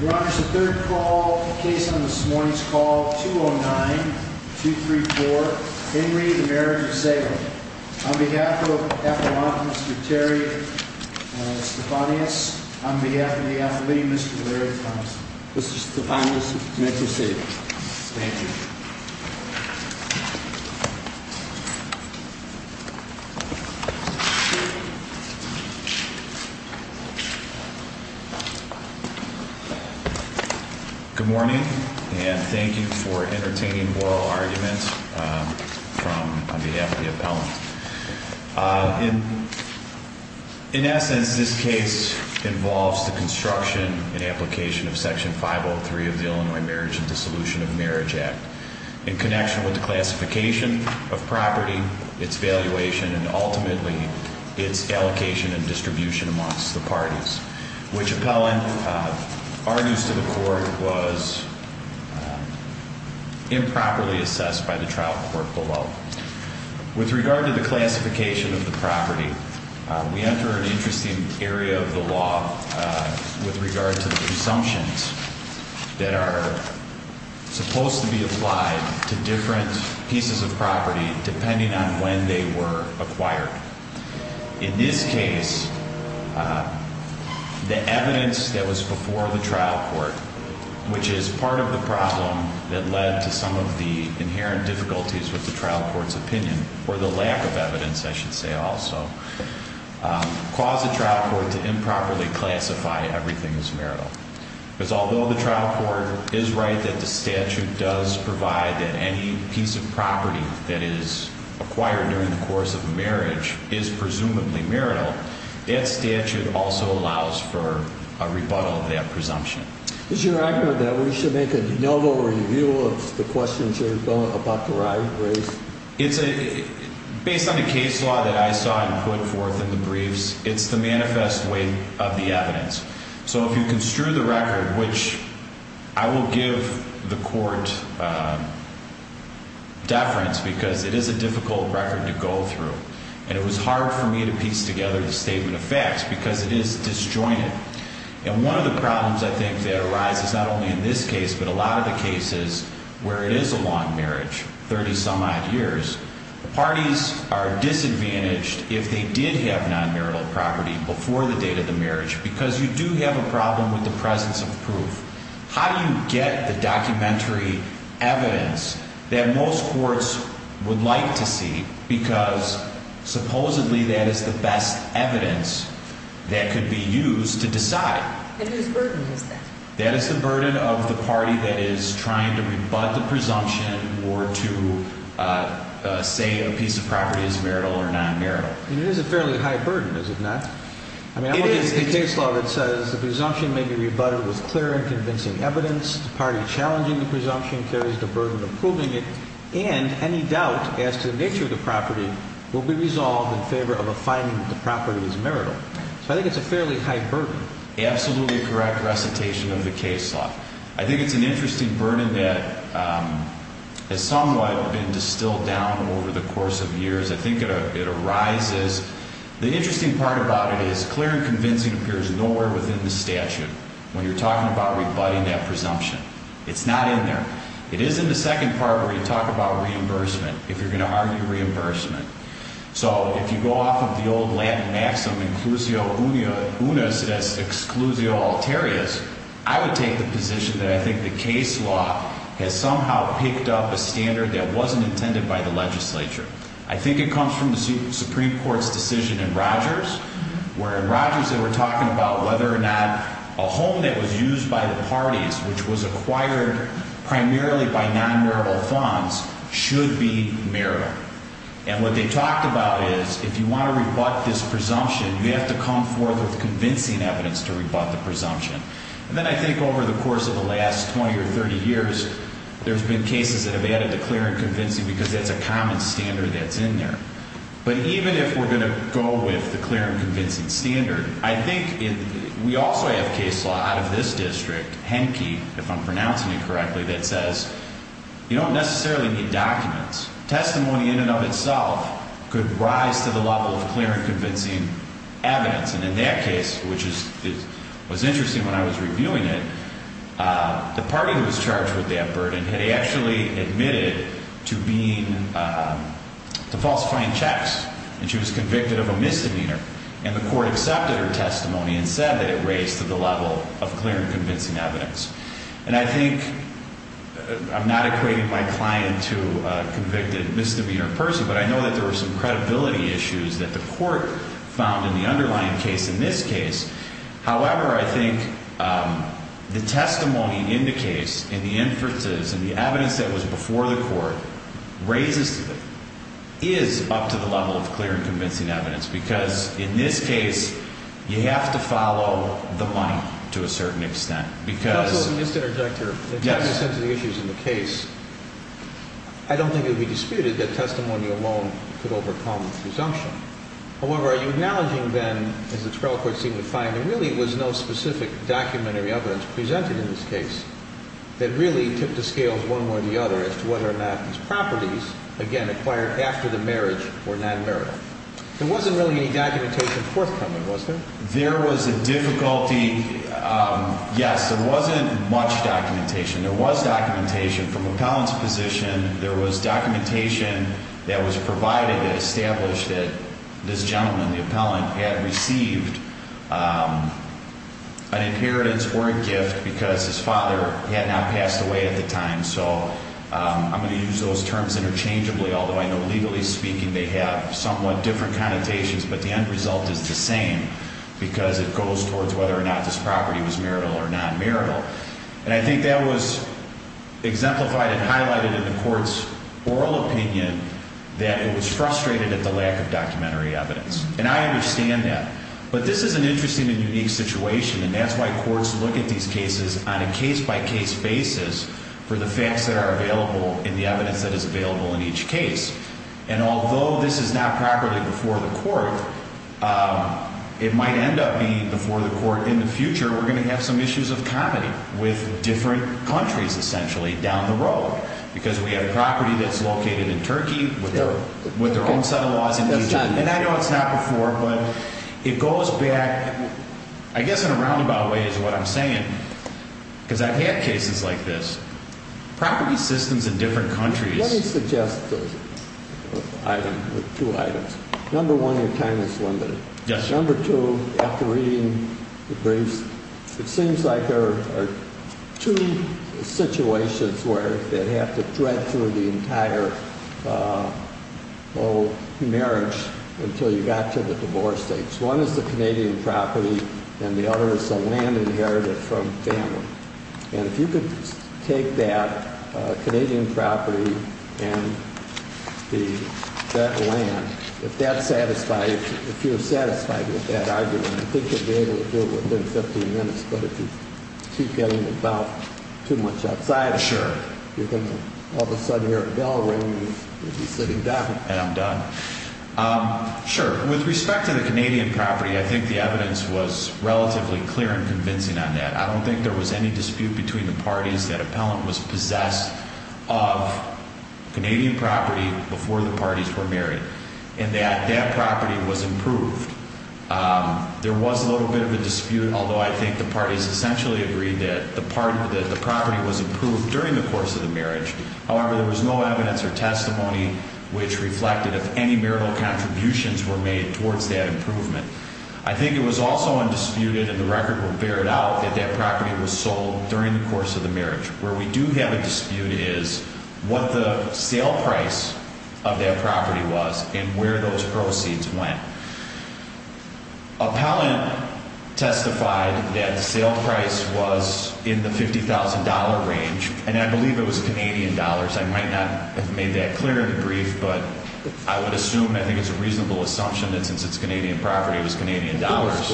Your Honor, this is the third case on this morning's call, 209-234, Henry v. Marriage of Salem. On behalf of Mr. Terry Stephanius, on behalf of the Athlete, Mr. Larry Thompson. Mr. Stephanius, you may proceed. Thank you. Good morning, and thank you for entertaining oral arguments on behalf of the appellant. In essence, this case involves the construction and application of Section 503 of the Illinois Marriage and Dissolution of Marriage Act. In connection with the classification of property, its valuation, and ultimately its allocation and distribution amongst the parties. Which, appellant, argues to the court, was improperly assessed by the trial court below. With regard to the classification of the property, we enter an interesting area of the law with regard to the presumptions that are supposed to be applied to different pieces of property depending on when they were acquired. In this case, the evidence that was before the trial court, which is part of the problem that led to some of the inherent difficulties with the trial court's opinion, or the lack of evidence I should say also, caused the trial court to improperly classify everything as marital. Because although the trial court is right that the statute does provide that any piece of property that is acquired during the course of a marriage is presumably marital, that statute also allows for a rebuttal of that presumption. Is your argument that we should make a de novo review of the questions you're about to raise? Based on the case law that I saw and put forth in the briefs, it's the manifest weight of the evidence. So if you construe the record, which I will give the court deference because it is a difficult record to go through. And it was hard for me to piece together the statement of facts because it is disjointed. And one of the problems I think that arises not only in this case, but a lot of the cases where it is a long marriage, 30 some odd years, the parties are disadvantaged if they did have non-marital property before the date of the marriage. Because you do have a problem with the presence of proof. How do you get the documentary evidence that most courts would like to see? Because supposedly that is the best evidence that could be used to decide. And whose burden is that? That is the burden of the party that is trying to rebut the presumption or to say a piece of property is marital or non-marital. It is a fairly high burden, is it not? It is. The case law that says the presumption may be rebutted with clear and convincing evidence. The party challenging the presumption carries the burden of proving it. And any doubt as to the nature of the property will be resolved in favor of a finding that the property is marital. So I think it's a fairly high burden. Absolutely correct recitation of the case law. I think it's an interesting burden that has somewhat been distilled down over the course of years. I think it arises. The interesting part about it is clear and convincing appears nowhere within the statute when you're talking about rebutting that presumption. It's not in there. It is in the second part where you talk about reimbursement, if you're going to argue reimbursement. So if you go off of the old Latin maxim, inclusio unus, that's exclusio alterius, I would take the position that I think the case law has somehow picked up a standard that wasn't intended by the legislature. I think it comes from the Supreme Court's decision in Rogers, where in Rogers they were talking about whether or not a home that was used by the parties, which was acquired primarily by non-marital funds, should be marital. And what they talked about is if you want to rebut this presumption, you have to come forth with convincing evidence to rebut the presumption. And then I think over the course of the last 20 or 30 years, there's been cases that have added the clear and convincing because that's a common standard that's in there. But even if we're going to go with the clear and convincing standard, I think we also have case law out of this district, Henke, if I'm pronouncing it correctly, that says you don't necessarily need documents. Testimony in and of itself could rise to the level of clear and convincing evidence. And in that case, which was interesting when I was reviewing it, the party who was charged with that burden had actually admitted to being to falsifying checks. And she was convicted of a misdemeanor. And the court accepted her testimony and said that it raised to the level of clear and convincing evidence. And I think I'm not equating my client to a convicted misdemeanor person. But I know that there were some credibility issues that the court found in the underlying case in this case. However, I think the testimony in the case, in the inferences and the evidence that was before the court, raises is up to the level of clear and convincing evidence. Because in this case, you have to follow the money to a certain extent. Because of the misdirector. Yes. In terms of the issues in the case, I don't think it would be disputed that testimony alone could overcome presumption. However, are you acknowledging then, as the trial court seemed to find, there really was no specific documentary evidence presented in this case that really tipped the scales one way or the other as to whether or not these properties, again, acquired after the marriage, were not marital. There wasn't really any documentation forthcoming, was there? There was a difficulty. Yes, there wasn't much documentation. There was documentation from appellant's position. There was documentation that was provided that established that this gentleman, the appellant, had received an inheritance or a gift because his father had not passed away at the time. I'm going to use those terms interchangeably, although I know legally speaking they have somewhat different connotations, but the end result is the same. Because it goes towards whether or not this property was marital or non-marital. And I think that was exemplified and highlighted in the court's oral opinion that it was frustrated at the lack of documentary evidence. And I understand that. But this is an interesting and unique situation, and that's why courts look at these cases on a case-by-case basis for the facts that are available and the evidence that is available in each case. And although this is not properly before the court, it might end up being before the court in the future. We're going to have some issues of comedy with different countries, essentially, down the road, because we have a property that's located in Turkey with their own set of laws in Egypt. And I know it's not before, but it goes back, I guess in a roundabout way is what I'm saying, because I've had cases like this. Property systems in different countries... Let me suggest two items. Number one, your time is limited. Yes. Number two, after reading the briefs, it seems like there are two situations where they have to thread through the entire marriage until you got to the divorce stage. One is the Canadian property, and the other is the land inherited from family. And if you could take that Canadian property and that land, if you're satisfied with that argument, I think you'll be able to do it within 15 minutes. But if you keep getting too much outside of it, you're going to all of a sudden hear a bell ring, and you'll be sitting down. And I'm done. Sure. With respect to the Canadian property, I think the evidence was relatively clear and convincing on that. I don't think there was any dispute between the parties that appellant was possessed of Canadian property before the parties were married, and that that property was improved. There was a little bit of a dispute, although I think the parties essentially agreed that the property was improved during the course of the marriage. However, there was no evidence or testimony which reflected if any marital contributions were made towards that improvement. I think it was also undisputed, and the record will bear it out, that that property was sold during the course of the marriage. Where we do have a dispute is what the sale price of that property was and where those proceeds went. Appellant testified that the sale price was in the $50,000 range, and I believe it was Canadian dollars. Perhaps I might not have made that clear in the brief, but I would assume, I think it's a reasonable assumption that since it's Canadian property, it was Canadian dollars.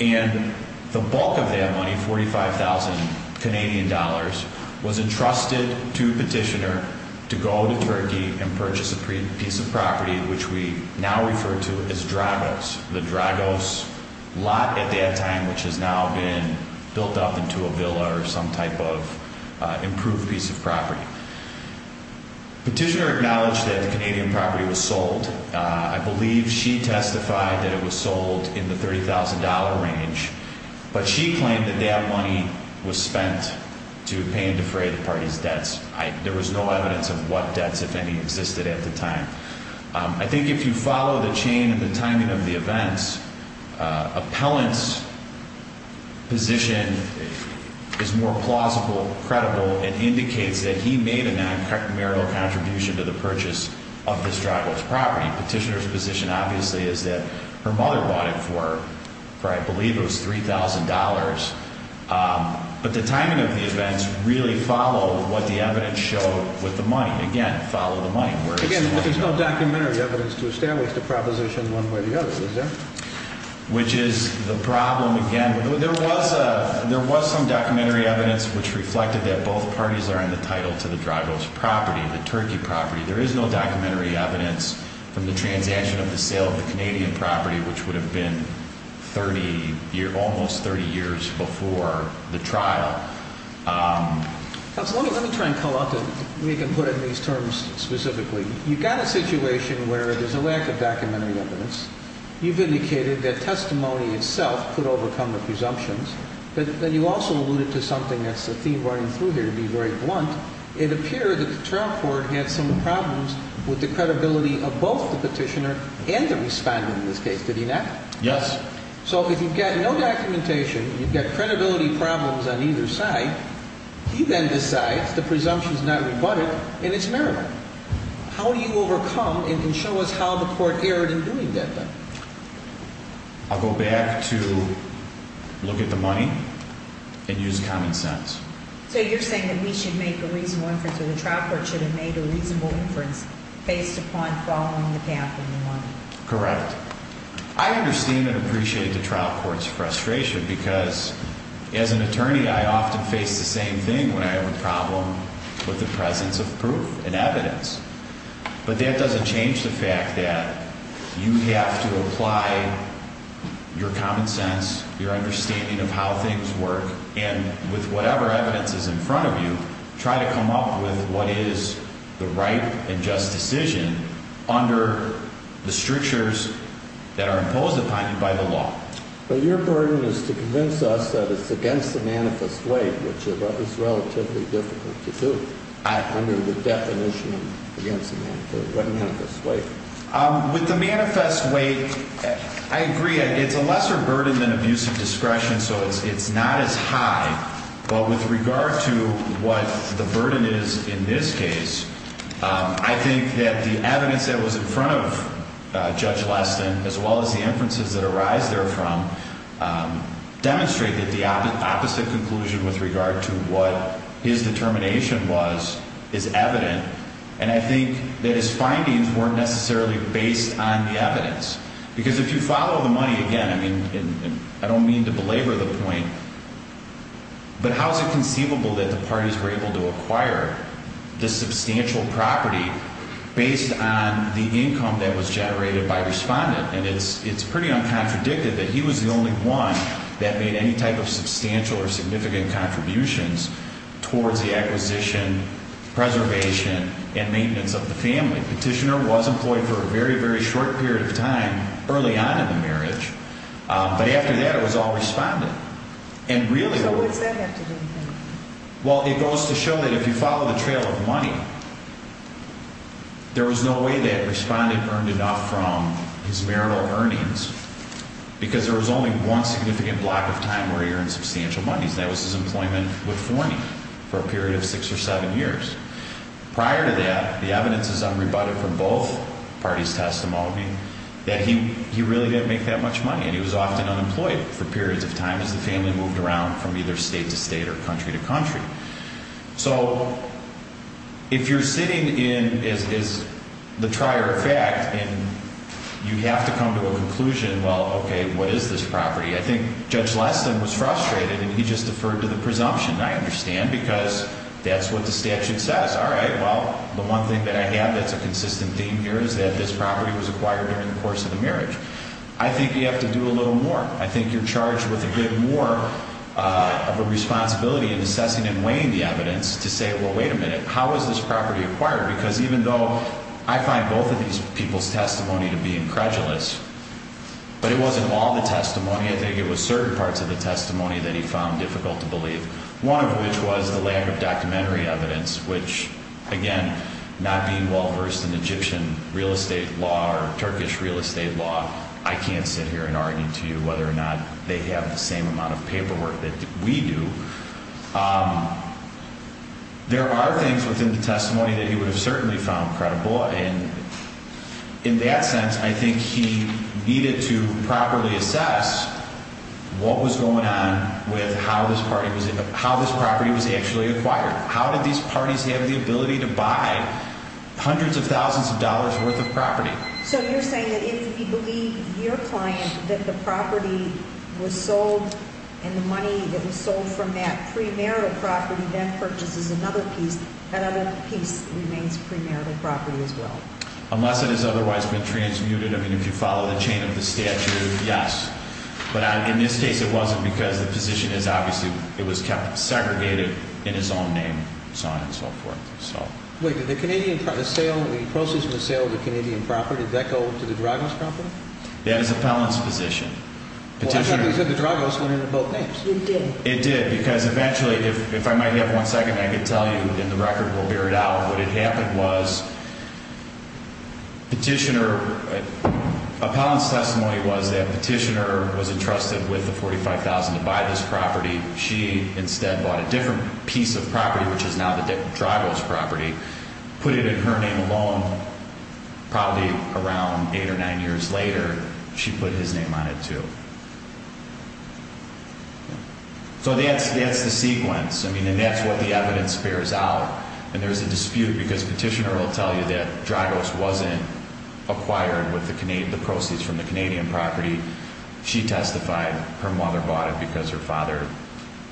And the bulk of that money, $45,000 Canadian dollars, was entrusted to the petitioner to go to Turkey and purchase a piece of property which we now refer to as Dragos. The Dragos lot at that time, which has now been built up into a villa or some type of improved piece of property. Petitioner acknowledged that the Canadian property was sold. I believe she testified that it was sold in the $30,000 range, but she claimed that that money was spent to pay and defray the party's debts. There was no evidence of what debts, if any, existed at the time. I think if you follow the chain and the timing of the events, appellant's position is more plausible, credible, and indicates that he made a non-criminal contribution to the purchase of this Dragos property. Petitioner's position, obviously, is that her mother bought it for, I believe it was $3,000. But the timing of the events really followed what the evidence showed with the money. Again, follow the money. But there's no documentary evidence to establish the proposition one way or the other, is there? Which is the problem, again. There was some documentary evidence which reflected that both parties are in the title to the Dragos property, the Turkey property. There is no documentary evidence from the transaction of the sale of the Canadian property, which would have been almost 30 years before the trial. Counsel, let me try and come up and we can put it in these terms specifically. You've got a situation where there's a lack of documentary evidence. You've indicated that testimony itself could overcome the presumptions. But then you also alluded to something that's a theme running through here, to be very blunt. It appeared that the trial court had some problems with the credibility of both the petitioner and the respondent in this case. Did he not? Yes. So if you've got no documentation, you've got credibility problems on either side, he then decides the presumption is not rebutted and it's marital. How do you overcome and show us how the court erred in doing that then? I'll go back to look at the money and use common sense. So you're saying that we should make a reasonable inference or the trial court should have made a reasonable inference based upon following the path of the money. Correct. I understand and appreciate the trial court's frustration because as an attorney, I often face the same thing when I have a problem with the presence of proof and evidence. But that doesn't change the fact that you have to apply your common sense, your understanding of how things work and with whatever evidence is in front of you, try to come up with what is the right and just decision under the strictures that are imposed upon you by the law. But your burden is to convince us that it's against the manifest way, which is relatively difficult to do under the definition of against the manifest way. With the manifest way, I agree. It's a lesser burden than abuse of discretion. So it's not as high. But with regard to what the burden is in this case, I think that the evidence that was in front of Judge Leston, as well as the inferences that arise therefrom, demonstrated the opposite conclusion with regard to what his determination was is evident. And I think that his findings weren't necessarily based on the evidence. Because if you follow the money, again, I don't mean to belabor the point, but how is it conceivable that the parties were able to acquire this substantial property based on the income that was generated by the respondent? And it's pretty uncontradictive that he was the only one that made any type of substantial or significant contributions towards the acquisition, preservation, and maintenance of the family. Petitioner was employed for a very, very short period of time early on in the marriage. But after that, it was all responded. So what does that have to do with anything? Well, it goes to show that if you follow the trail of money, there was no way that the respondent earned enough from his marital earnings. Because there was only one significant block of time where he earned substantial money, and that was his employment with Forney for a period of six or seven years. Prior to that, the evidence is unrebutted from both parties' testimony that he really didn't make that much money. And he was often unemployed for periods of time as the family moved around from either state to state or country to country. So if you're sitting in, as is the trier of fact, and you have to come to a conclusion, well, okay, what is this property? I think Judge Leston was frustrated, and he just deferred to the presumption, I understand, because that's what the statute says. All right, well, the one thing that I have that's a consistent theme here is that this property was acquired during the course of the marriage. I think you have to do a little more. I think you're charged with a bit more of a responsibility in assessing and weighing the evidence to say, well, wait a minute, how was this property acquired? Because even though I find both of these people's testimony to be incredulous, but it wasn't all the testimony. I think it was certain parts of the testimony that he found difficult to believe, one of which was the lack of documentary evidence, which, again, not being well-versed in Egyptian real estate law or Turkish real estate law, I can't sit here and argue to you whether or not they have the same amount of paperwork that we do. There are things within the testimony that he would have certainly found credible, and in that sense, I think he needed to properly assess what was going on with how this property was actually acquired. How did these parties have the ability to buy hundreds of thousands of dollars' worth of property? So you're saying that if you believe your client that the property was sold and the money that was sold from that premarital property then purchases another piece, that other piece remains premarital property as well? Unless it has otherwise been transmuted. I mean, if you follow the chain of the statute, yes. But in this case, it wasn't because the position is obviously it was kept segregated in its own name, so on and so forth. Wait, did the process of the sale of the Canadian property, did that go to the Dragos Company? That is Appellant's position. Well, I thought you said the Dragos went into both names. It did. It did, because eventually, if I might have one second, I can tell you, and the record will bear it out, what had happened was Petitioner, Appellant's testimony was that Petitioner was entrusted with the $45,000 to buy this property. She instead bought a different piece of property, which is now the Dragos property, put it in her name alone. Probably around eight or nine years later, she put his name on it, too. So that's the sequence, and that's what the evidence bears out. And there's a dispute, because Petitioner will tell you that Dragos wasn't acquired with the proceeds from the Canadian property. She testified her mother bought it because her father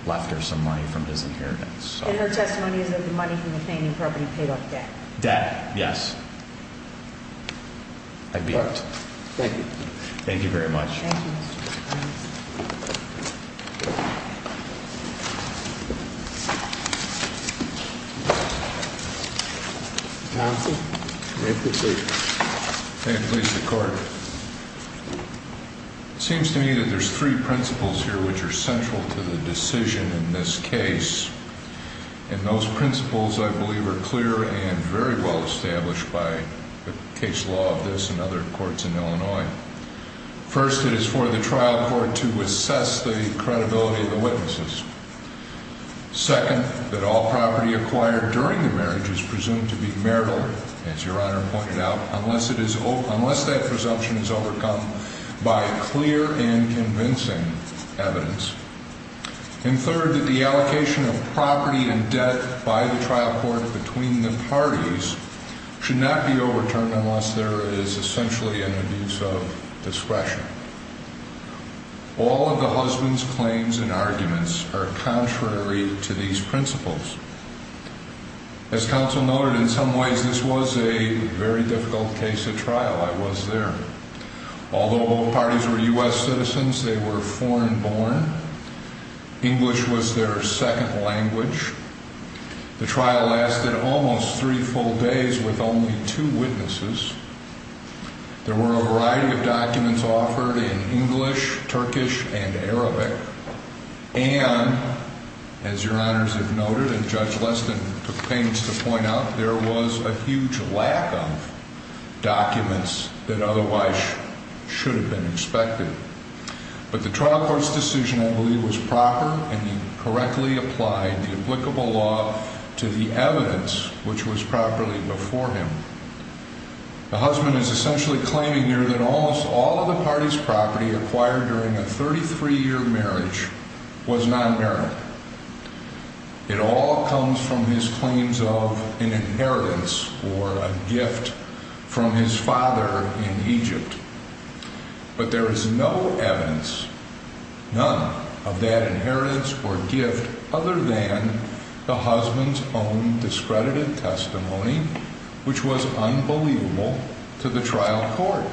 left her some money from his inheritance. And her testimony is that the money from the Canadian property paid off debt. Debt, yes. Thank you. Thank you very much. Thank you, Mr. Appellant. Counsel, may I proceed? May it please the Court. It seems to me that there's three principles here which are central to the decision in this case. And those principles, I believe, are clear and very well established by the case law of this and other courts in Illinois. First, it is for the trial court to assess the credibility of the witnesses. Second, that all property acquired during the marriage is presumed to be marital, as Your Honor pointed out, unless that presumption is overcome by clear and convincing evidence. And third, that the allocation of property and debt by the trial court between the parties should not be overturned unless there is essentially an abuse of discretion. All of the husband's claims and arguments are contrary to these principles. As counsel noted, in some ways this was a very difficult case at trial. I was there. Although both parties were U.S. citizens, they were foreign-born. English was their second language. The trial lasted almost three full days with only two witnesses. There were a variety of documents offered in English, Turkish, and Arabic. And, as Your Honors have noted, and Judge Leston took pains to point out, there was a huge lack of documents that otherwise should have been expected. But the trial court's decision, I believe, was proper, and he correctly applied the applicable law to the evidence, which was properly before him. The husband is essentially claiming here that almost all of the party's property acquired during a 33-year marriage was non-marital. It all comes from his claims of an inheritance or a gift from his father in Egypt. But there is no evidence, none, of that inheritance or gift other than the husband's own discredited testimony, which was unbelievable to the trial court.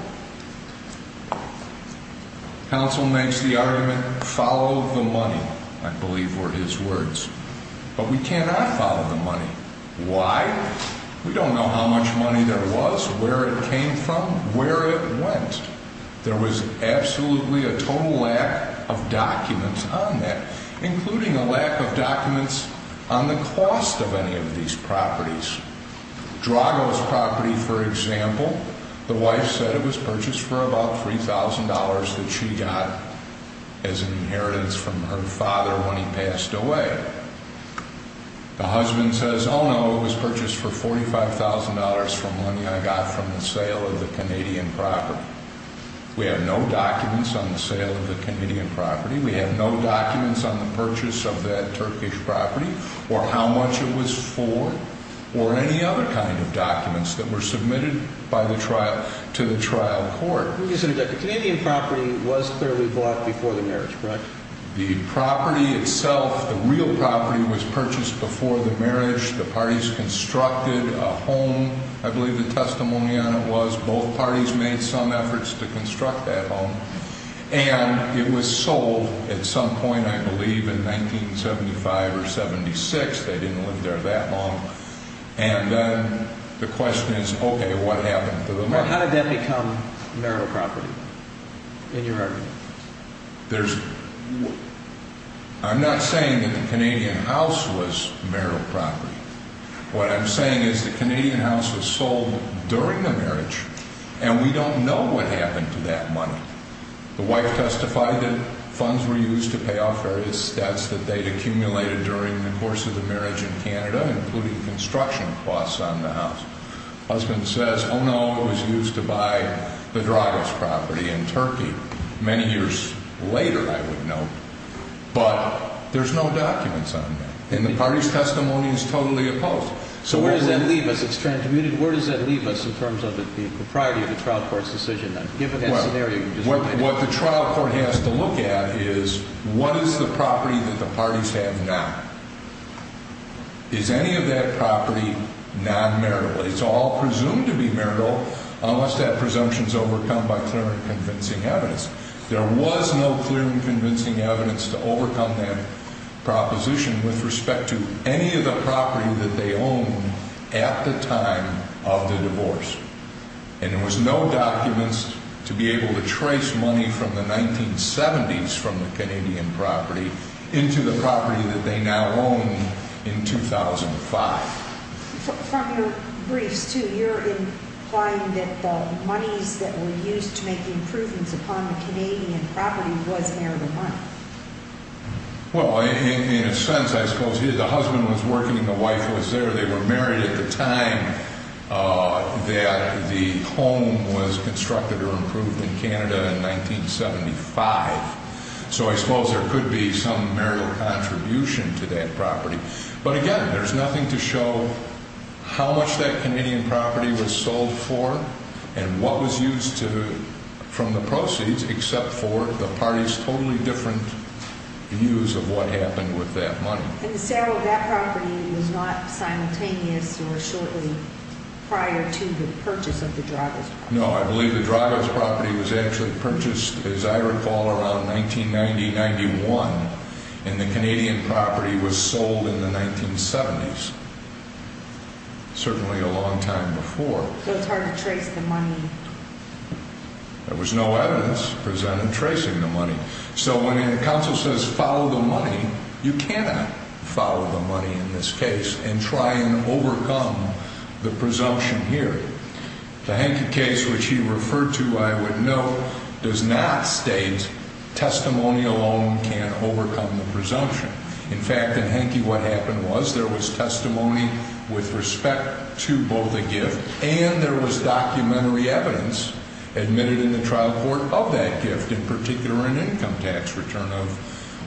Counsel makes the argument, follow the money, I believe were his words. But we cannot follow the money. Why? We don't know how much money there was, where it came from, where it went. There was absolutely a total lack of documents on that, including a lack of documents on the cost of any of these properties. Drago's property, for example, the wife said it was purchased for about $3,000 that she got as an inheritance from her father when he passed away. The husband says, oh, no, it was purchased for $45,000 from money I got from the sale of the Canadian property. We have no documents on the sale of the Canadian property. We have no documents on the purchase of that Turkish property or how much it was for or any other kind of documents that were submitted to the trial court. Let me just interject. The Canadian property was clearly bought before the marriage, correct? The property itself, the real property, was purchased before the marriage. The parties constructed a home. I believe the testimony on it was both parties made some efforts to construct that home. And it was sold at some point, I believe, in 1975 or 76. They didn't live there that long. And then the question is, OK, what happened to the money? How did that become marital property, in your argument? I'm not saying that the Canadian house was marital property. What I'm saying is the Canadian house was sold during the marriage, and we don't know what happened to that money. The wife testified that funds were used to pay off various debts that they'd accumulated during the course of the marriage in Canada, including construction costs on the house. The husband says, oh, no, it was used to buy the Dragos property in Turkey. Many years later, I would note. But there's no documents on that. And the party's testimony is totally opposed. So where does that leave us? It's transmuted. Where does that leave us in terms of the propriety of the trial court's decision, given that scenario? What the trial court has to look at is what is the property that the parties have now? Is any of that property non-marital? It's all presumed to be marital, unless that presumption is overcome by clear and convincing evidence. There was no clear and convincing evidence to overcome that proposition with respect to any of the property that they owned at the time of the divorce. And there was no documents to be able to trace money from the 1970s from the Canadian property into the property that they now own in 2005. From your briefs, too, you're implying that the monies that were used to make the improvements upon the Canadian property was marital money. Well, in a sense, I suppose the husband was working and the wife was there. They were married at the time that the home was constructed or improved in Canada in 1975. So I suppose there could be some marital contribution to that property. But again, there's nothing to show how much that Canadian property was sold for and what was used from the proceeds, except for the parties' totally different views of what happened with that money. And the sale of that property was not simultaneous or shortly prior to the purchase of the Drago's property? No, I believe the Drago's property was actually purchased, as I recall, around 1990-91. And the Canadian property was sold in the 1970s, certainly a long time before. So it's hard to trace the money? There was no evidence presented tracing the money. So when a counsel says follow the money, you cannot follow the money in this case and try and overcome the presumption here. The Henke case, which he referred to, I would note, does not state testimony alone can overcome the presumption. In fact, in Henke, what happened was there was testimony with respect to both the gift and there was documentary evidence admitted in the trial court of that gift, in particular an income tax return of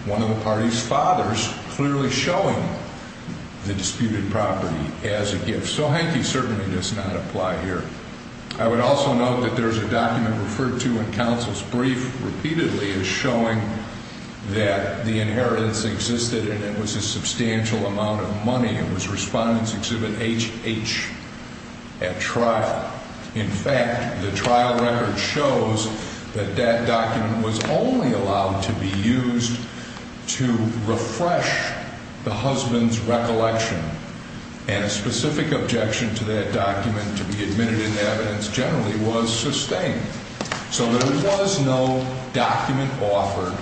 one of the party's fathers clearly showing the disputed property as a gift. So Henke certainly does not apply here. I would also note that there's a document referred to in counsel's brief repeatedly as showing that the inheritance existed and it was a substantial amount of money. It was Respondent's Exhibit HH at trial. In fact, the trial record shows that that document was only allowed to be used to refresh the husband's recollection. And a specific objection to that document to be admitted in evidence generally was sustained. So there was no document offered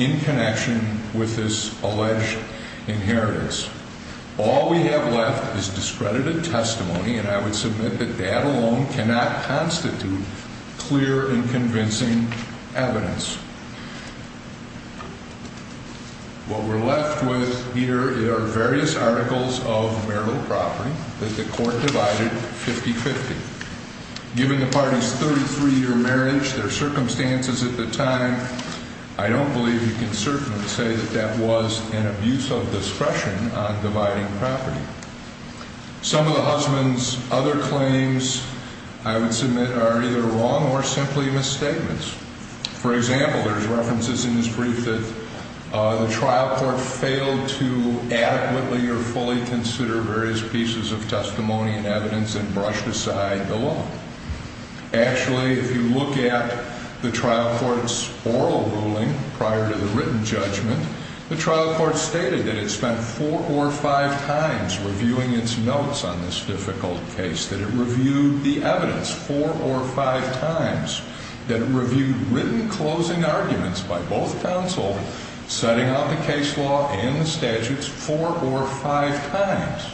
in connection with this alleged inheritance. All we have left is discredited testimony, and I would submit that that alone cannot constitute clear and convincing evidence. What we're left with here are various articles of marital property that the court divided 50-50. Given the party's 33-year marriage, their circumstances at the time, I don't believe you can certainly say that that was an abuse of discretion on dividing property. Some of the husband's other claims I would submit are either wrong or simply misstatements. For example, there's references in this brief that the trial court failed to adequately or fully consider various pieces of testimony and evidence and brushed aside the law. Actually, if you look at the trial court's oral ruling prior to the written judgment, the trial court stated that it spent four or five times reviewing its notes on this difficult case, that it reviewed the evidence four or five times, that it reviewed written closing arguments by both counsel, setting out the case law and the statutes four or five times.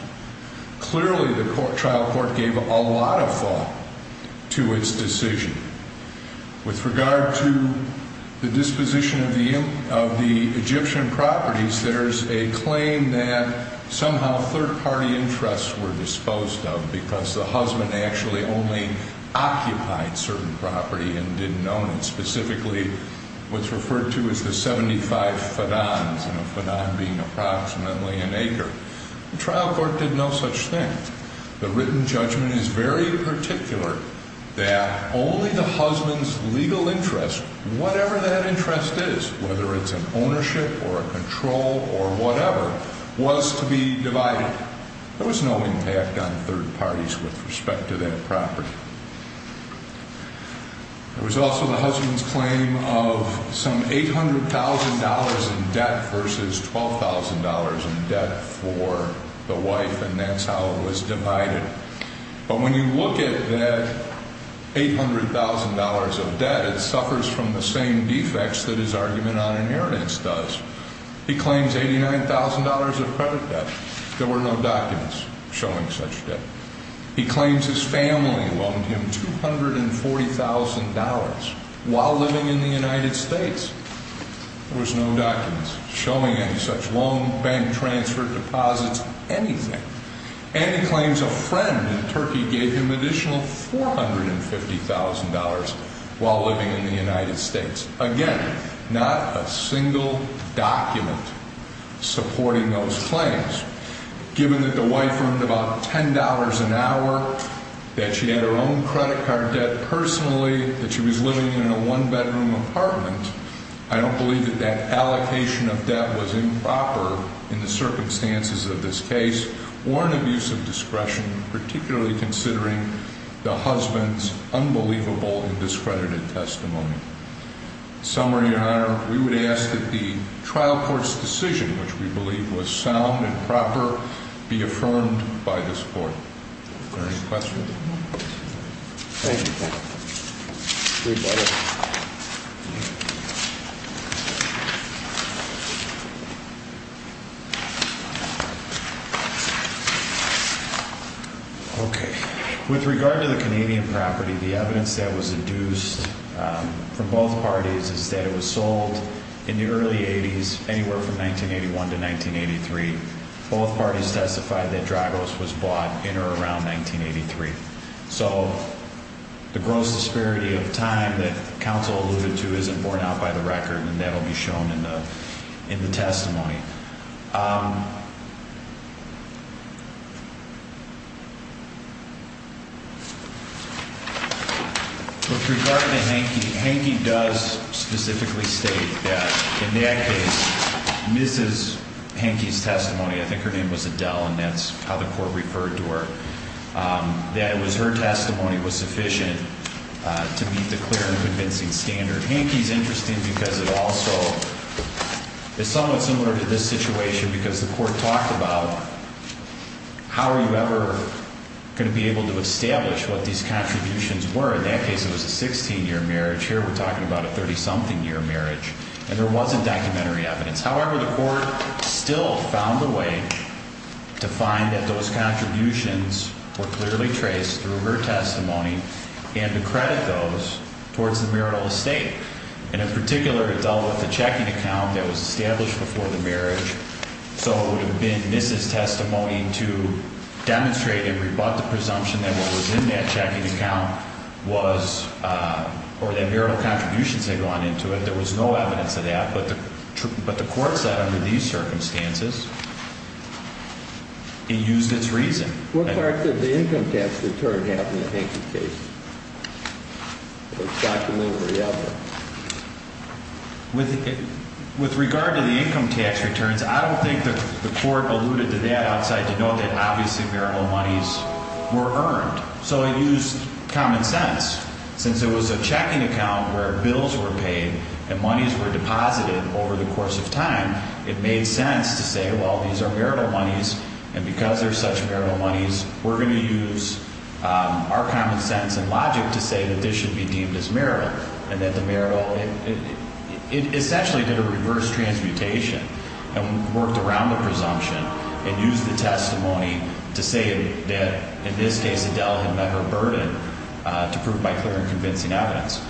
Clearly, the trial court gave a lot of thought to its decision. With regard to the disposition of the Egyptian properties, there's a claim that somehow third-party interests were disposed of because the husband actually only occupied certain property and didn't own it, specifically what's referred to as the 75 fedans, and a fedan being approximately an acre. The trial court did no such thing. The written judgment is very particular that only the husband's legal interest, whatever that interest is, whether it's an ownership or a control or whatever, was to be divided. There was no impact on third parties with respect to that property. There was also the husband's claim of some $800,000 in debt versus $12,000 in debt for the wife, and that's how it was divided. But when you look at that $800,000 of debt, it suffers from the same defects that his argument on inheritance does. He claims $89,000 of credit debt. There were no documents showing such debt. He claims his family loaned him $240,000 while living in the United States. There was no documents showing any such loan, bank transfer, deposits, anything. And he claims a friend in Turkey gave him an additional $450,000 while living in the United States. Again, not a single document supporting those claims. Given that the wife earned about $10 an hour, that she had her own credit card debt personally, that she was living in a one-bedroom apartment, I don't believe that that allocation of debt was improper in the circumstances of this case or an abuse of discretion, particularly considering the husband's unbelievable and discredited testimony. In summary, Your Honor, we would ask that the trial court's decision, which we believe was sound and proper, be affirmed by this Court. Are there any questions? Thank you. Okay. With regard to the Canadian property, the evidence that was induced from both parties is that it was sold in the early 80s, anywhere from 1981 to 1983. Both parties testified that Dragos was bought in or around 1983. So the gross disparity of time that counsel alluded to isn't borne out by the record, and that will be shown in the testimony. With regard to Hankey, Hankey does specifically state that in that case, Mrs. Hankey's testimony, I think her name was Adele, and that's how the court referred to her, that it was her testimony was sufficient to meet the clear and convincing standard. Hankey's interesting because it also is somewhat similar to this situation because the court talked about how are you ever going to be able to establish what these contributions were. In that case, it was a 16-year marriage. Here we're talking about a 30-something-year marriage, and there wasn't documentary evidence. However, the court still found a way to find that those contributions were clearly traced through her testimony and to credit those towards the marital estate. And in particular, it dealt with the checking account that was established before the marriage. So it would have been Mrs. Testimony to demonstrate and rebut the presumption that what was in that checking account was or that marital contributions had gone into it. There was no evidence of that. But the court said under these circumstances, it used its reason. What part did the income tax return have in the Hankey case? With regard to the income tax returns, I don't think the court alluded to that outside to know that obviously marital monies were earned. So it used common sense. Since it was a checking account where bills were paid and monies were deposited over the course of time, it made sense to say, well, these are marital monies, and because they're such marital monies, we're going to use our common sense and logic to say that this should be deemed as marital. It essentially did a reverse transmutation and worked around the presumption and used the testimony to say that in this case Adele had met her burden to prove by clear and convincing evidence.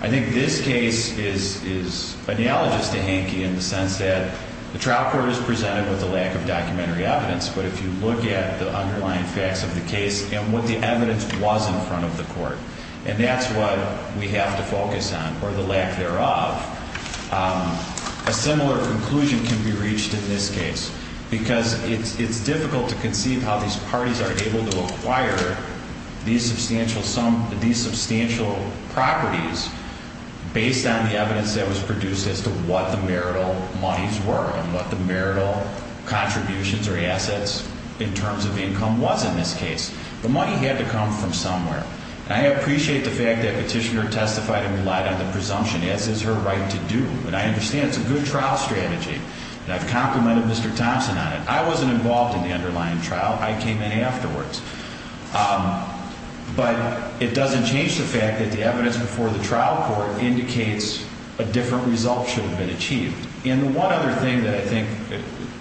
I think this case is analogous to Hankey in the sense that the trial court is presented with a lack of documentary evidence. But if you look at the underlying facts of the case and what the evidence was in front of the court, and that's what we have to focus on, or the lack thereof, a similar conclusion can be reached in this case. Because it's difficult to conceive how these parties are able to acquire these substantial properties based on the evidence that was produced as to what the marital monies were and what the marital contributions or assets in terms of income was in this case. The money had to come from somewhere. And I appreciate the fact that Petitioner testified and relied on the presumption, as is her right to do. And I understand it's a good trial strategy. And I've complimented Mr. Thompson on it. I wasn't involved in the underlying trial. I came in afterwards. But it doesn't change the fact that the evidence before the trial court indicates a different result should have been achieved. And the one other thing that I think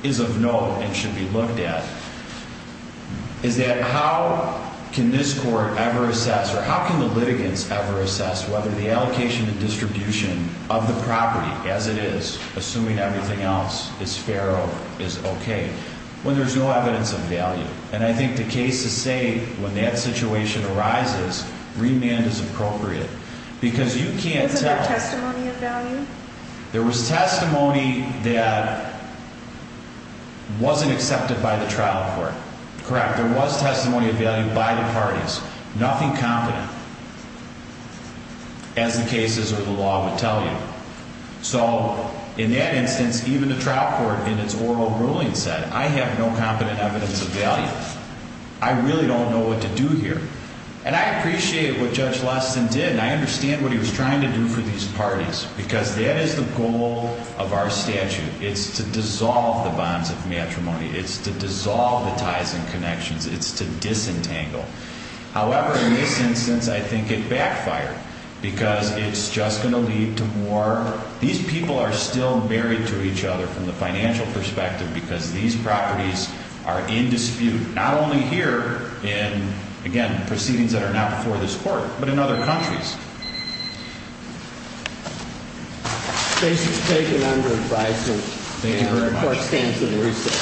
is of note and should be looked at is that how can this court ever assess, or how can the litigants ever assess whether the allocation and distribution of the property as it is, assuming everything else is fair or is OK, when there's no evidence of value? And I think the case is safe when that situation arises. Remand is appropriate. Because you can't tell. Isn't there testimony of value? There was testimony that wasn't accepted by the trial court. Correct. There was testimony of value by the parties. Nothing competent, as the cases or the law would tell you. So in that instance, even the trial court in its oral ruling said, I have no competent evidence of value. I really don't know what to do here. And I appreciate what Judge Lessing did. I understand what he was trying to do for these parties. Because that is the goal of our statute. It's to dissolve the bonds of matrimony. It's to dissolve the ties and connections. It's to disentangle. However, in this instance, I think it backfired. Because it's just going to lead to more. These people are still married to each other from the financial perspective. Because these properties are in dispute. Not only here in, again, proceedings that are now before this court. But in other countries. Case is taken under advisory. Thank you very much. Court stands in recess.